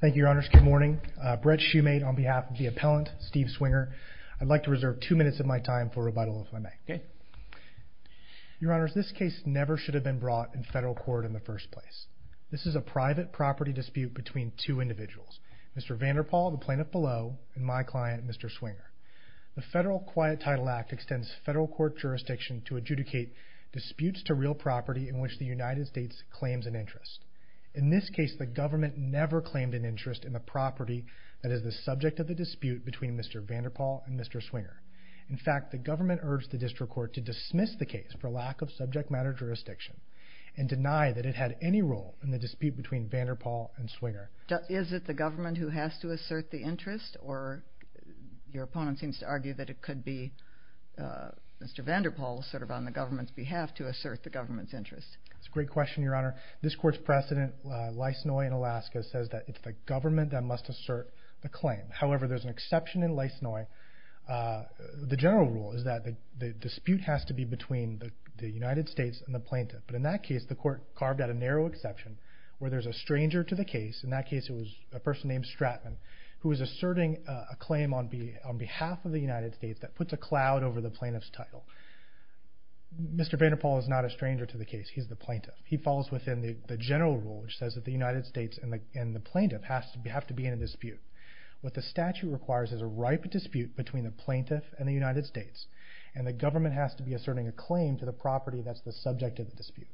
Thank you, Your Honors. Good morning. Brett Shoemate on behalf of the appellant, Steve Swinger. I'd like to reserve two minutes of my time for rebuttal, if I may. Okay. Your Honors, this case never should have been brought in federal court in the first place. This is a private property dispute between two individuals, Mr. Vanderpol, the plaintiff below, and my client, Mr. Swinger. The Federal Quiet Title Act extends federal court jurisdiction to adjudicate disputes to real property in which the United States claims an interest. In this case, the government never claimed an interest in a property that is the subject of the dispute between Mr. Vanderpol and Mr. Swinger. In fact, the government urged the district court to dismiss the case for lack of subject matter jurisdiction, and deny that it had any role in the dispute between Vanderpol and Swinger. Is it the government who has to assert the interest, or your opponent seems to argue that it could be Mr. Vanderpol, sort of on the government's behalf, to assert the government's claim? The precedent, Lysnoy in Alaska, says that it's the government that must assert the claim. However, there's an exception in Lysnoy. The general rule is that the dispute has to be between the United States and the plaintiff. But in that case, the court carved out a narrow exception, where there's a stranger to the case. In that case, it was a person named Stratman, who was asserting a claim on behalf of the United States that puts a cloud over the plaintiff's title. Mr. Vanderpol is not a stranger to the case, he's the plaintiff. He follows within the general rule, which says that the United States and the plaintiff have to be in a dispute. What the statute requires is a ripe dispute between the plaintiff and the United States, and the government has to be asserting a claim to the property that's the subject of the dispute.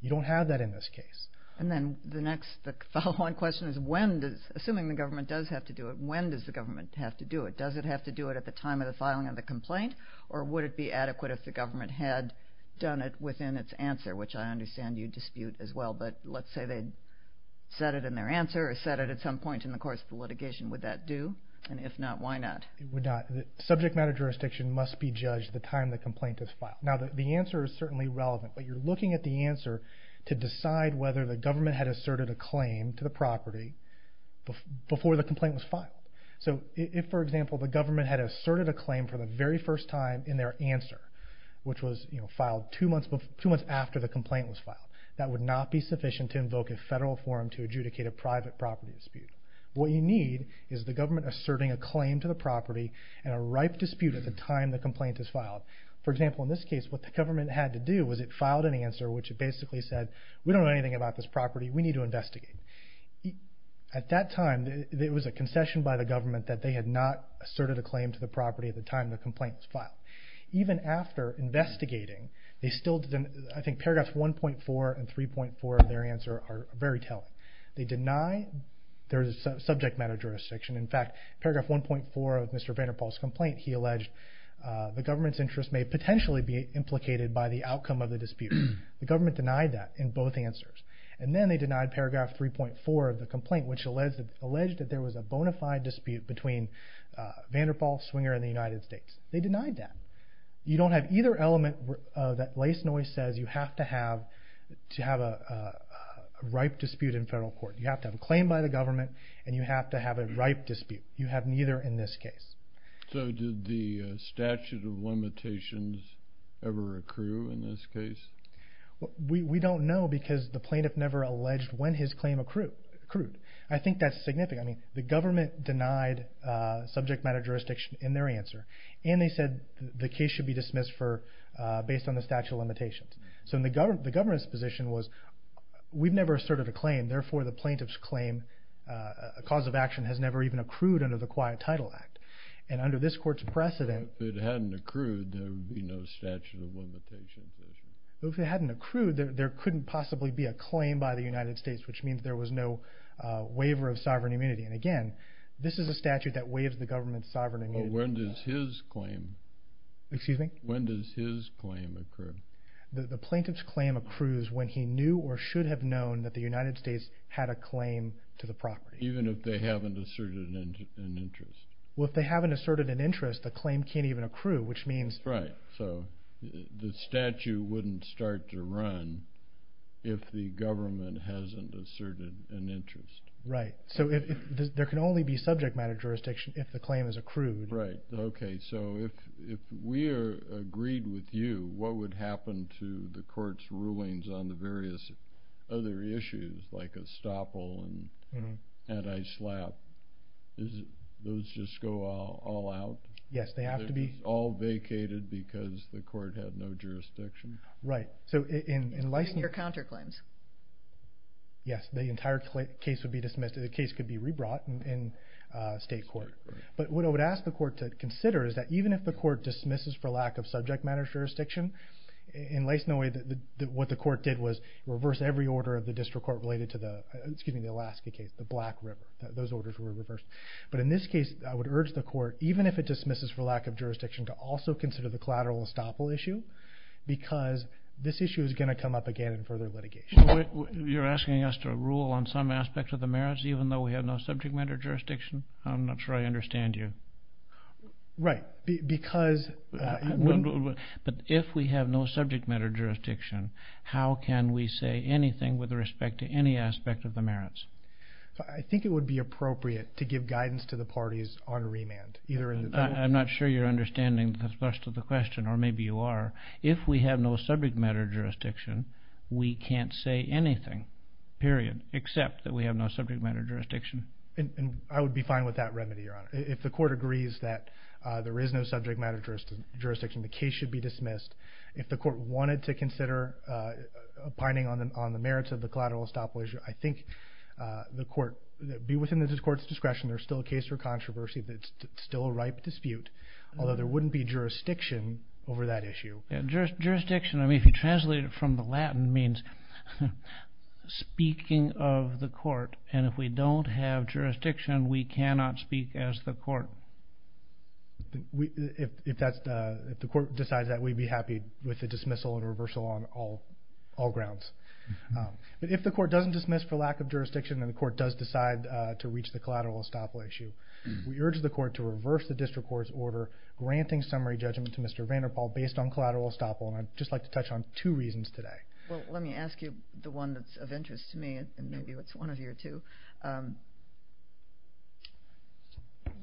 You don't have that in this case. And then the next, the following question is, when does... Assuming the government does have to do it, when does the government have to do it? Does it have to do it at the time of the filing of the complaint, or would it be adequate if the government had done it at the time of the filing? Because I understand you dispute as well, but let's say they'd set it in their answer, or set it at some point in the course of the litigation, would that do? And if not, why not? It would not. The subject matter jurisdiction must be judged at the time the complaint is filed. Now, the answer is certainly relevant, but you're looking at the answer to decide whether the government had asserted a claim to the property before the complaint was filed. So if, for example, the government had asserted a claim for the very first time in their answer, which was filed two months after the complaint was filed, that would not be sufficient to invoke a federal forum to adjudicate a private property dispute. What you need is the government asserting a claim to the property, and a ripe dispute at the time the complaint is filed. For example, in this case, what the government had to do was it filed an answer which basically said, we don't know anything about this property, we need to investigate. At that time, it was a concession by the government that they had not asserted a claim to the property at the time the complaint was filed. Even after investigating, they still didn't... I think paragraphs 1.4 and 3.4 of their answer are very telling. They deny there's a subject matter jurisdiction. In fact, paragraph 1.4 of Mr. Vanderpoel's complaint, he alleged the government's interest may potentially be implicated by the outcome of the dispute. The government denied that in both answers. And then they denied paragraph 3.4 of the complaint, which alleged that there was a bona fide dispute between Vanderpoel, Swinger, and the United States. They denied that. You don't have either element that Lace Noyce says you have to have to have a ripe dispute in federal court. You have to have a claim by the government, and you have to have a ripe dispute. You have neither in this case. So did the statute of limitations ever accrue in this case? We don't know because the plaintiff never alleged when his claim accrued. I think that's significant. The government denied subject matter jurisdiction in their answer, and they said the case should be dismissed based on the statute of limitations. So the government's position was we've never asserted a claim, therefore the plaintiff's claim, a cause of action, has never even accrued under the Quiet Title Act. And under this court's precedent... If it hadn't accrued, there would be no statute of limitations. If it hadn't accrued, there couldn't possibly be a claim by the United States, which means there was no waiver of sovereign immunity. And again, this is a statute that waives the government's sovereign immunity. But when does his claim... Excuse me? When does his claim accrue? The plaintiff's claim accrues when he knew or should have known that the United States had a claim to the property. Even if they haven't asserted an interest. Well, if they haven't asserted an interest, the claim can't even accrue, which means... Right. So the statute wouldn't start to run if the government hasn't asserted an interest. Right. So if there can only be subject matter jurisdiction if the claim is accrued. Right. Okay. So if we are agreed with you, what would happen to the court's rulings on the various other issues, like estoppel and anti slap? Those just go all out? Yes, they have to be... They're all vacated because the court had no jurisdiction? Right. So in licensing... And your counterclaims. Yes, the entire case would be dismissed. The case could be re brought in state court. Right. But what I would ask the court to consider is that even if the court dismisses for lack of subject matter jurisdiction, in lacing away what the court did was reverse every order of the district court related to the... Excuse me, the Alaska case, the Black River. Those orders were reversed. But in this case, I would urge the court, even if it dismisses for lack of jurisdiction, to also consider the collateral estoppel issue because this issue is gonna come up again in further litigation. You're asking us to rule on some aspects of the merits, even though we have no subject matter jurisdiction? I'm not sure I understand you. Right. Because... But if we have no subject matter jurisdiction, how can we say anything with respect to any aspect of the merits? I think it would be appropriate to give guidance to the parties on remand, either in the... I'm not sure you're understanding the thrust of the question, or maybe you are. If we have no subject matter jurisdiction, we can't say anything, period, except that we have no subject matter jurisdiction. And I would be fine with that remedy, Your Honor. If the court agrees that there is no subject matter jurisdiction, the case should be dismissed. If the court wanted to consider pining on the merits of the collateral estoppel issue, I think the court... Be within the court's discretion, there's still a case for controversy, there's still a ripe dispute, although there wouldn't be jurisdiction over that issue. Jurisdiction, if you translate it from the Latin, means speaking of the court, and if we don't have jurisdiction, we cannot speak as the court. If the court decides that, we'd be happy with the dismissal and reversal on all grounds. But if the court doesn't dismiss for lack of jurisdiction, and the court does decide to reach the collateral estoppel issue, we urge the court to reverse the district court's order, granting summary judgment to Mr. Vanderpoel, based on collateral estoppel. And I'd just like to touch on two reasons today. Well, let me ask you the one that's of interest to me, and maybe it's one of your two.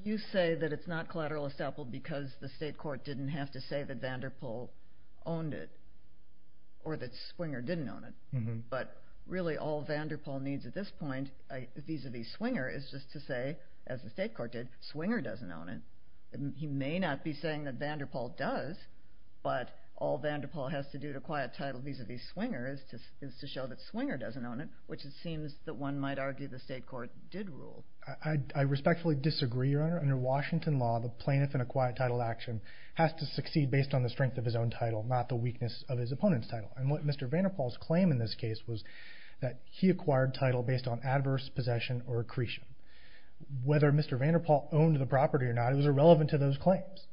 You say that it's not collateral estoppel because the state court didn't have to say that Vanderpoel owned it, or that Swinger didn't own it. But really, all Vanderpoel needs at this point, vis a vis Swinger, is just to say, as the state court did, Swinger doesn't own it. He may not be saying that Vanderpoel does, but all Vanderpoel has to do to acquire a title vis a vis Swinger is to show that Swinger doesn't own it, which it seems that one might argue the state court did rule. I respectfully disagree, Your Honor. Under Washington law, the plaintiff in acquired title action has to succeed based on the strength of his own title, not the weakness of his opponent's title. And what Mr. Vanderpoel's claim in this case was that he acquired title based on adverse possession or accretion. Whether Mr. Vanderpoel owned the property or not, it was irrelevant to those claims.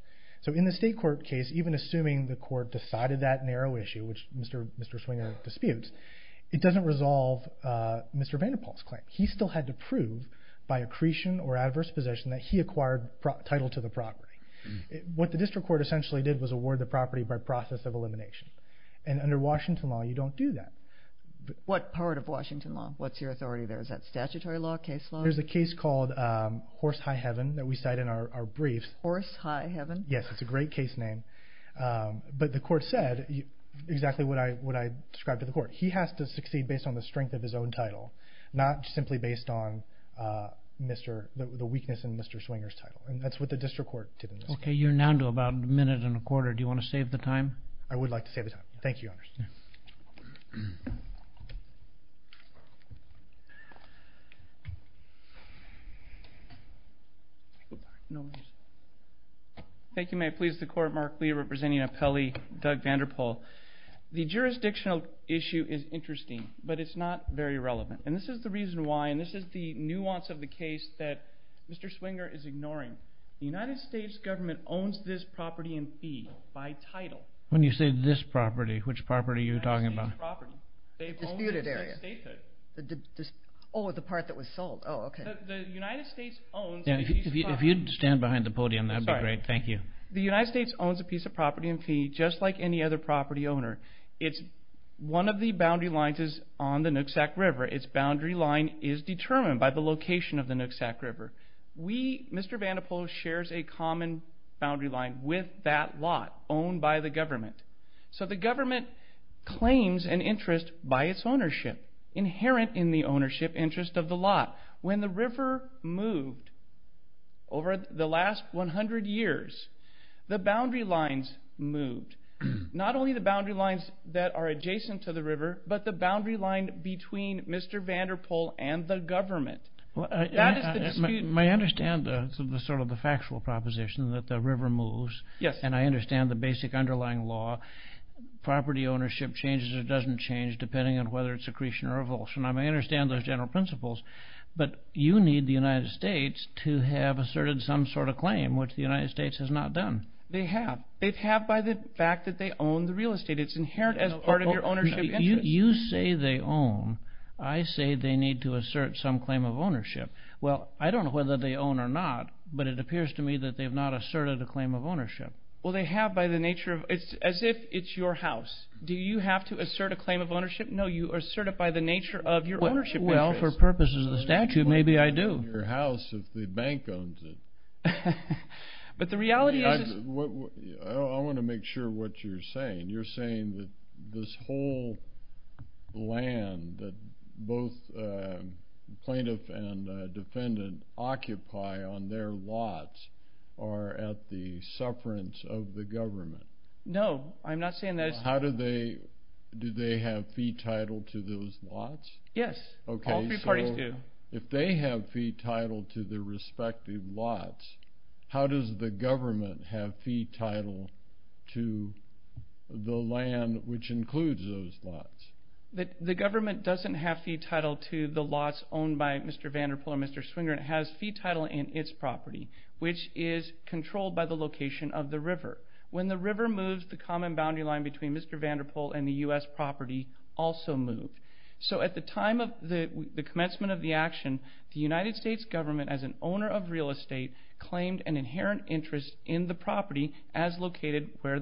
So in the state court case, even assuming the court decided that narrow issue, which Mr. Swinger disputes, it doesn't resolve Mr. Vanderpoel's claim. He still had to prove by accretion or adverse possession that he acquired title to the property. What the district court essentially did was award the property by process of elimination. And under Washington law, you don't do that. What part of Washington law? What's your authority there? Is that statutory law, case law? There's a case called Horse High Heaven that we cite in our briefs. Horse High Heaven? Yes, it's a great case name. But the court said exactly what I described to the court. He has to succeed based on the strength of his own title, not simply based on the weakness in Mr. Swinger's title. And that's what the district court did in this case. Okay, you're now to about a minute and a quarter. Do you wanna save the time? I would like to save the time. Thank you, Your Honor. Thank you, Your Honor. Thank you, may it please the court, Mark Lee, representing appellee Doug Vanderpoel. The jurisdictional issue is interesting, but it's not very relevant. And this is the reason why, and this is the nuance of the case that Mr. Swinger is ignoring. The United States government owns this property in fee by title. When you say this property, which property are you talking about? The disputed area. Oh, the part that was sold. Oh, okay. The United States owns... If you'd stand behind the podium, that'd be great. Thank you. The United States owns a piece of property in fee, just like any other property owner. One of the boundary lines is on the Nooksack River. Its boundary line is determined by the location of the Nooksack River. Mr. Vanderpoel shares a common boundary line with that of the government. So the government claims an interest by its ownership, inherent in the ownership interest of the lot. When the river moved over the last 100 years, the boundary lines moved. Not only the boundary lines that are adjacent to the river, but the boundary line between Mr. Vanderpoel and the government. That is the dispute... I understand the factual proposition that the river moves. Yes. And I understand the basic underlying law. Property ownership changes or doesn't change, depending on whether it's accretion or revulsion. I understand those general principles. But you need the United States to have asserted some sort of claim, which the United States has not done. They have. They have by the fact that they own the real estate. It's inherent as part of your ownership interest. You say they own. I say they need to assert some claim of ownership. Well, I don't know whether they own or not, but it appears to me that they have not asserted a claim of ownership. As if it's your house. Do you have to assert a claim of ownership? No, you assert it by the nature of your ownership interest. Well, for purposes of the statute, maybe I do. Your house if the bank owns it. But the reality is... I wanna make sure what you're saying. You're saying that this whole land that both plaintiff and defendant occupy on their lots are at the sufferance of the government. No, I'm not saying that... How do they... Do they have fee title to those lots? Yes, all three parties do. Okay, so if they have fee title to their respective lots, how does the government have fee title to the land which includes those lots? The government doesn't have fee title to the lots owned by Mr. Vanderpool or Mr. Swinger. It has fee title in its property, which is controlled by the location of the river. When the river moves, the common boundary line between Mr. Vanderpool and the US property also move. So at the time of the commencement of the action, the United States government as an owner of real estate claimed an inherent interest in the property as located where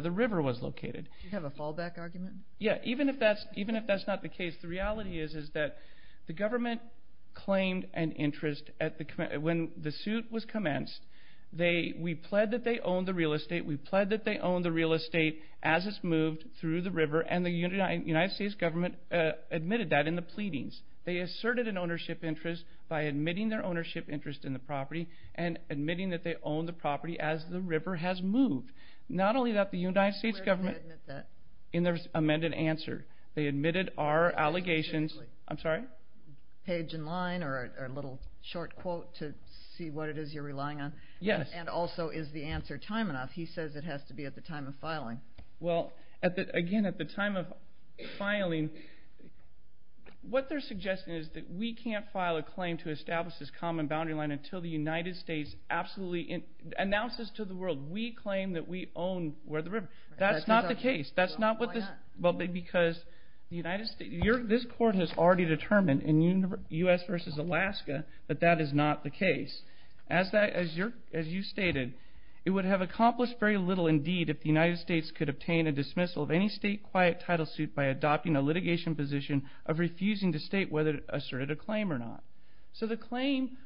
the river was located. Do you have a fallback argument? Yeah, even if that's not the case, the reality is that the government claimed an interest at the... When the suit was commenced, we pled that they owned the real estate, we pled that they owned the real estate as it's moved through the river, and the United States government admitted that in the pleadings. They asserted an ownership interest by admitting their ownership interest in the property and admitting that they owned the property as the river has moved. Not only that, the United States government... Where did they admit that? In their amended answer. They admitted our allegations... Page in line or a little short quote to see what it is you're relying on? Yes. And also, is the answer time enough? He says it has to be at the time of filing. Well, again, at the time of filing, what they're suggesting is that we can't file a claim to establish this common boundary line until the United States absolutely announces to the world, we claim that we own where the river... That's not the case. That's not what this... Why not? Well, because the United States... This court has already determined in US versus Alaska that that is not the case. As you stated, it would have accomplished very little indeed if the United States could obtain a dismissal of any state quiet title suit by adopting a litigation position of refusing to state whether it asserted a claim or not. So the claim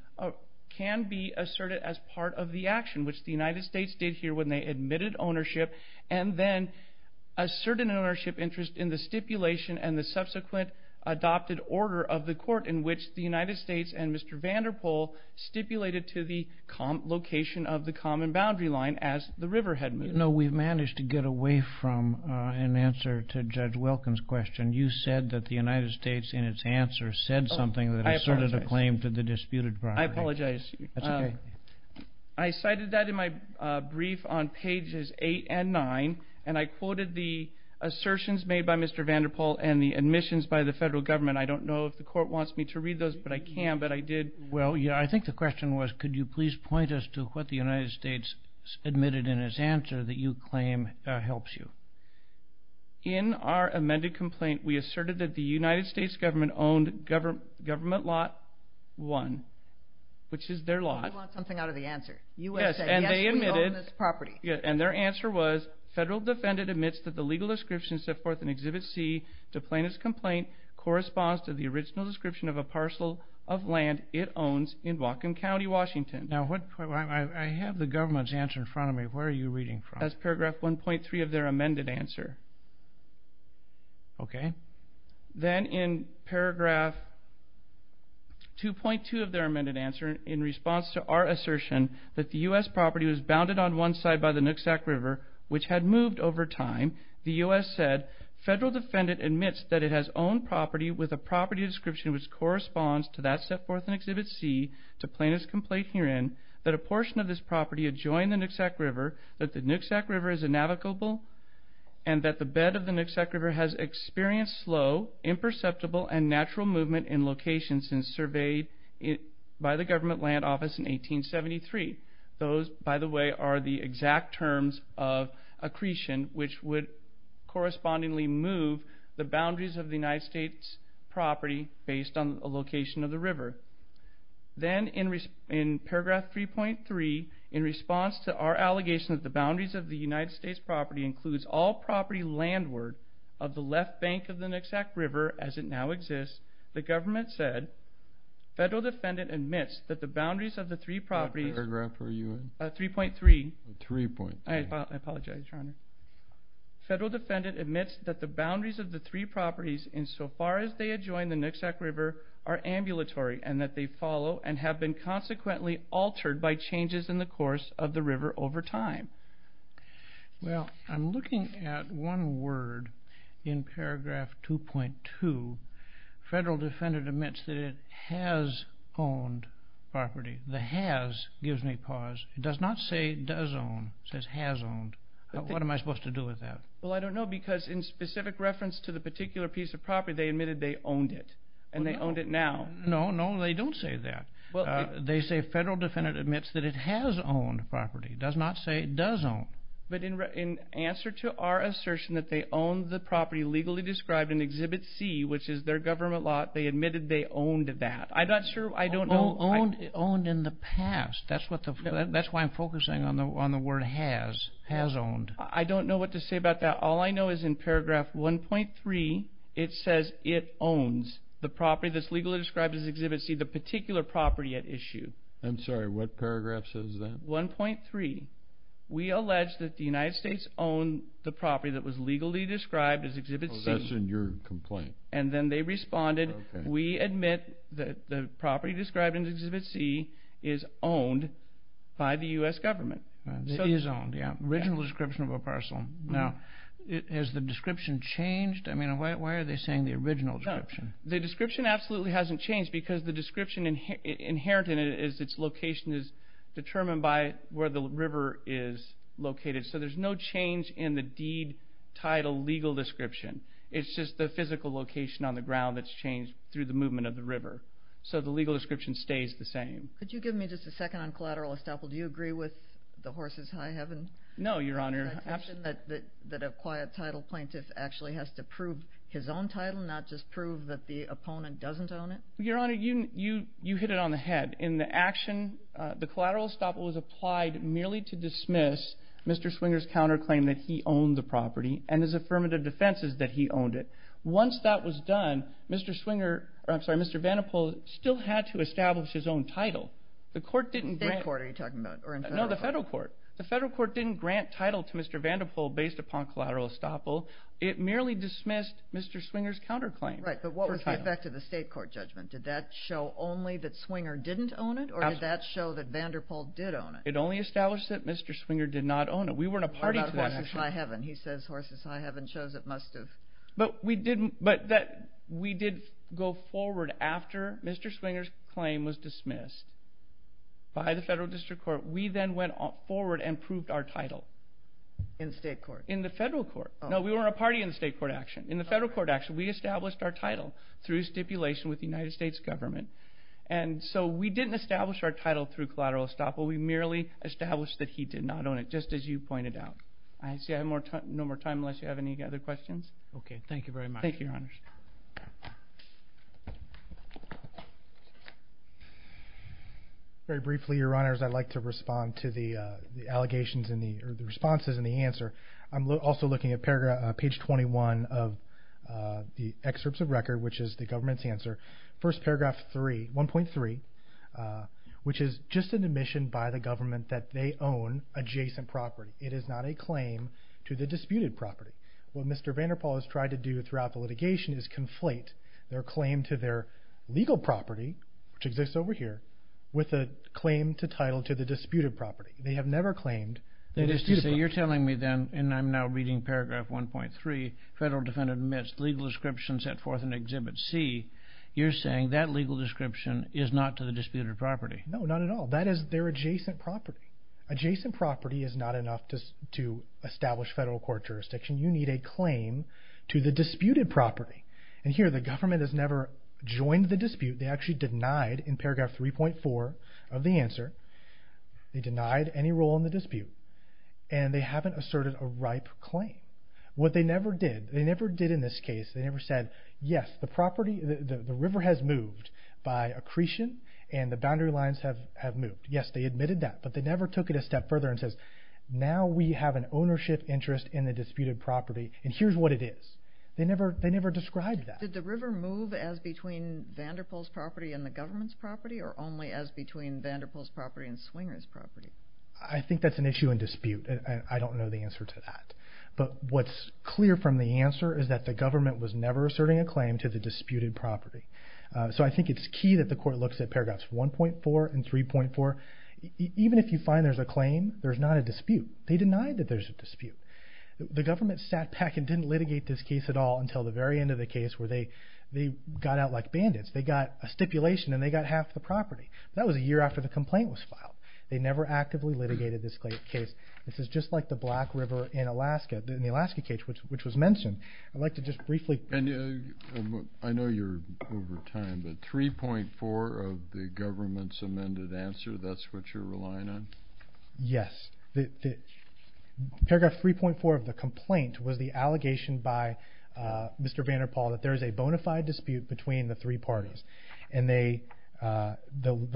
can be asserted as part of the action, which the United States did here when they in the stipulation and the subsequent adopted order of the court in which the United States and Mr. Vanderpol stipulated to the location of the common boundary line as the river had moved. No, we've managed to get away from an answer to Judge Wilkins' question. You said that the United States in its answer said something that asserted a claim to the disputed property. I apologize. That's okay. I cited that in my brief on Mr. Vanderpol and the admissions by the federal government. I don't know if the court wants me to read those, but I can, but I did. Well, yeah. I think the question was, could you please point us to what the United States admitted in its answer that you claim helps you? In our amended complaint, we asserted that the United States government owned government lot one, which is their lot. We want something out of the answer. USA. Yes, we own this property. And their answer was federal defendant admits that the legal description set forth in exhibit C to plaintiff's complaint corresponds to the original description of a parcel of land it owns in Whatcom County, Washington. Now, I have the government's answer in front of me. Where are you reading from? That's paragraph 1.3 of their amended answer. Okay. Then in paragraph 2.2 of their amended answer, in response to our assertion that the U.S. property was bounded on one side by the Nooksack River, which had moved over time, the U.S. said, federal defendant admits that it has owned property with a property description which corresponds to that set forth in exhibit C to plaintiff's complaint herein, that a portion of this property adjoined the Nooksack River, that the Nooksack River is inalicable, and that the bed of the Nooksack River has experienced slow, imperceptible, and natural movement in location since surveyed by the government land office in 1873. Those, by the way, are the exact terms of accretion which would correspondingly move the boundaries of the United States' property based on a location of the river. Then in paragraph 3.3, in response to our allegation that the boundaries of the United States' property includes all property landward of the left bank of the Nooksack River as it now exists, the government said, federal defendant admits that the boundaries of the three properties... What paragraph are you in? 3.3. 3.3. I apologize, Your Honor. Federal defendant admits that the boundaries of the three properties in so far as they adjoin the Nooksack River are ambulatory and that they follow and have been consequently altered by changes in the course of the river over time. Well, I'm looking at one word in paragraph 2.2. Federal defendant admits that it has owned property. The has gives me pause. It does not say does own. It says has owned. What am I supposed to do with that? Well, I don't know because in specific reference to the particular piece of property, they admitted they owned it and they owned it now. No, no, they don't say that. They say federal defendant admits that it has owned property, does not say it does own. But in answer to our assertion that they owned the property legally described in exhibit C, which is their government lot, they admitted they owned that. I'm not sure. I don't know. Owned in the past. That's why I'm focusing on the word has, has owned. I don't know what to say about that. All I know is in paragraph 1.3, it says it owns the property that's legally described as exhibit C, the particular property at issue. I'm sorry, what paragraph says that? 1.3. We allege that the United States owned the property that was legally described as exhibit C. Oh, that's in your complaint. And then they responded, we admit that the property described in exhibit C is owned by the US government. It is owned, yeah. Original description of a parcel. Now, has the description changed? I mean, why are they saying the original description? The description absolutely hasn't changed because the description inherent in it is its location is determined by where the river is located. So there's no change in the deed title legal description. It's just the physical location on the ground that's changed through the movement of the river. So the legal description stays the same. Could you give me just a second on collateral estoppel? Do you agree with the horse's high heaven? No, your honor. I think that a quiet title plaintiff actually has to prove his own title, not just prove that the opponent doesn't own it. Your honor, you hit it on the head. In the action, the collateral estoppel was that he owned the property and his affirmative defense is that he owned it. Once that was done, Mr. Swinger, I'm sorry, Mr. Vanderpoel still had to establish his own title. The court didn't... State court are you talking about or in federal court? No, the federal court. The federal court didn't grant title to Mr. Vanderpoel based upon collateral estoppel. It merely dismissed Mr. Swinger's counterclaim. Right, but what was the effect of the state court judgment? Did that show only that Swinger didn't own it or did that show that Vanderpoel did own it? It only established that he owned it. He says horse's high heaven shows it must have... But we did go forward after Mr. Swinger's claim was dismissed by the federal district court. We then went forward and proved our title. In state court? In the federal court. No, we weren't a party in the state court action. In the federal court action, we established our title through stipulation with the United States government. And so we didn't establish our title through collateral estoppel. We merely established that he did not own it, just as you pointed out. I see I have no more time unless you have any other questions. Okay, thank you very much. Thank you, your honors. Very briefly, your honors, I'd like to respond to the allegations and the responses and the answer. I'm also looking at page 21 of the excerpts of record, which is the government's answer. First paragraph 1.3, which is just an admission by the government that they own adjacent property. It is not a claim to the disputed property. What Mr. Vander Paul has tried to do throughout the litigation is conflate their claim to their legal property, which exists over here, with a claim to title to the disputed property. They have never claimed to be disputable. That is to say, you're telling me then, and I'm now reading paragraph 1.3, federal defendant admits legal description set forth in Exhibit C. You're saying that legal description is not to the disputed property. No, not at all. That is their adjacent property. Adjacent property is not enough to establish federal court jurisdiction. You need a claim to the disputed property. And here, the government has never joined the dispute. They actually denied, in paragraph 3.4 of the answer, they denied any role in the dispute, and they haven't asserted a ripe claim. What they never did, they never did in this case, they never said, yes, the property, the river has moved by accretion and the boundary lines have moved. Yes, they admitted that, but they never took it a step further and says, now we have an ownership interest in the disputed property, and here's what it is. They never described that. Did the river move as between Vanderpoel's property and the government's property, or only as between Vanderpoel's property and Swinger's property? I think that's an issue in dispute, and I don't know the answer to that. But what's clear from the answer is that the government was never asserting a claim to the disputed property. So I think it's key that the court looks at paragraphs 1.4 and 3.4. Even if you find there's a claim, there's not a dispute. They denied that there's a dispute. The government sat back and didn't litigate this case at all until the very end of the case, where they got out like bandits. They got a stipulation and they got half the property. That was a year after the complaint was filed. They never actively litigated this case. This is just like the Black River in Alaska, in the Alaska case, which was mentioned. I'd like to just briefly... And I know you're over time, but 3.4 of the government's amended answer, that's what you're relying on? Yes. Paragraph 3.4 of the complaint was the allegation by Mr. Vanderpoel that there is a bona fide dispute between the three parties. And the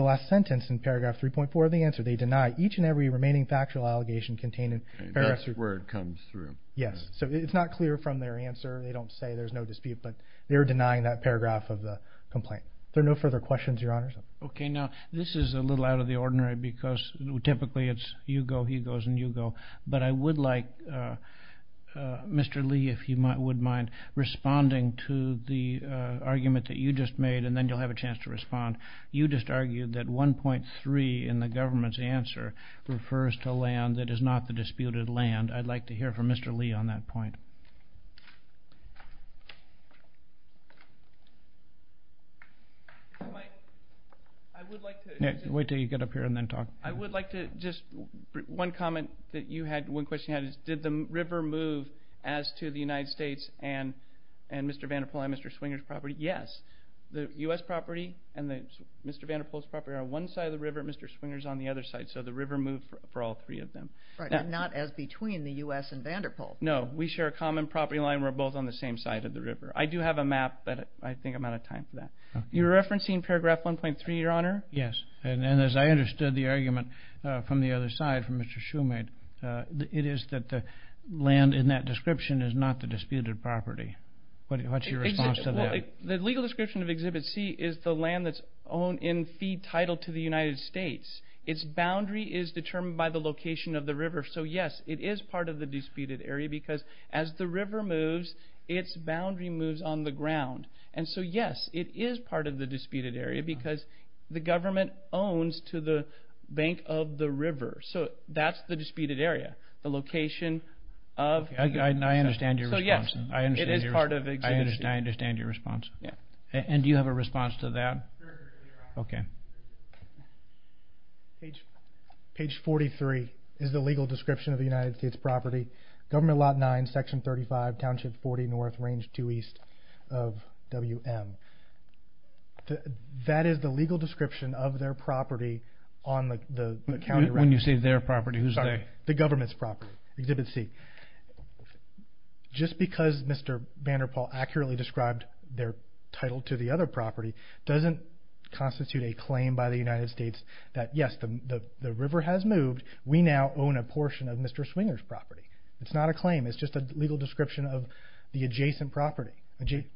last sentence in paragraph 3.4 of the answer, they deny each and every remaining factual allegation containing... That's where it comes through. Yes. So it's not clear from their answer. They don't say there's no dispute, but they're denying that paragraph of the complaint. Are there no further questions, Your Honor? Okay. Now, this is a little out of the ordinary because typically it's you go, he goes, and you go. But I would like Mr. Lee, if you would mind, responding to the argument that you just made, and then you'll have a chance to respond. You just argued that 1.3 in the government's answer refers to land that is not the disputed land. I'd like to hear from Mr. Lee on that point. I would like to... Wait till you get up here and then talk. I would like to just... One comment that you had, one question you had is, did the river move as to the United States and Mr. Vanderpoel and Mr. Swinger's property? Yes. The US property and Mr. Vanderpoel's property are on one side of the river and Mr. Swinger's on the other side. So the river moved for all three of them. Right. Not as between the US and Vanderpoel. No. We share a property line. We're both on the same side of the river. I do have a map, but I think I'm out of time for that. You're referencing paragraph 1.3, Your Honor? Yes. And as I understood the argument from the other side, from Mr. Shoemade, it is that the land in that description is not the disputed property. What's your response to that? Well, the legal description of Exhibit C is the land that's owned in fee title to the United States. Its boundary is determined by the location of the river. So yes, it is part of the disputed area because as the river moves, its boundary moves on the ground. And so yes, it is part of the disputed area because the government owns to the bank of the river. So that's the disputed area, the location of... I understand your response. So yes, it is part of Exhibit C. I understand your response. Yeah. And do you have a response to that? Sure, Your Honor. Okay. Page 43 is the legal description of the United States property, Government Lot 9, Section 35, Township 40 North, Range 2 East of WM. That is the legal description of their property on the county record. When you say their property, who's they? The government's property, Exhibit C. Just because Mr. Vanderpoel accurately described their title to the other property doesn't constitute a claim by the United States that yes, the river has moved, we now own a portion of Mr. Swinger's property. It's not a claim, it's just a legal description of the adjacent property.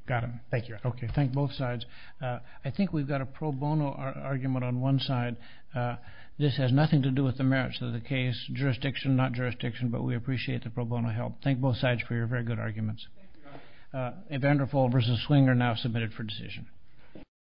Got it. Thank you, Your Honor. Okay. Thank both sides. I think we've got a pro bono argument on one side. This has nothing to do with the merits of the case, jurisdiction, not jurisdiction, but we appreciate the pro bono help. Thank both sides for your very good arguments. Thank you, Your Honor. Vanderpoel versus Swinger now submitted for decision.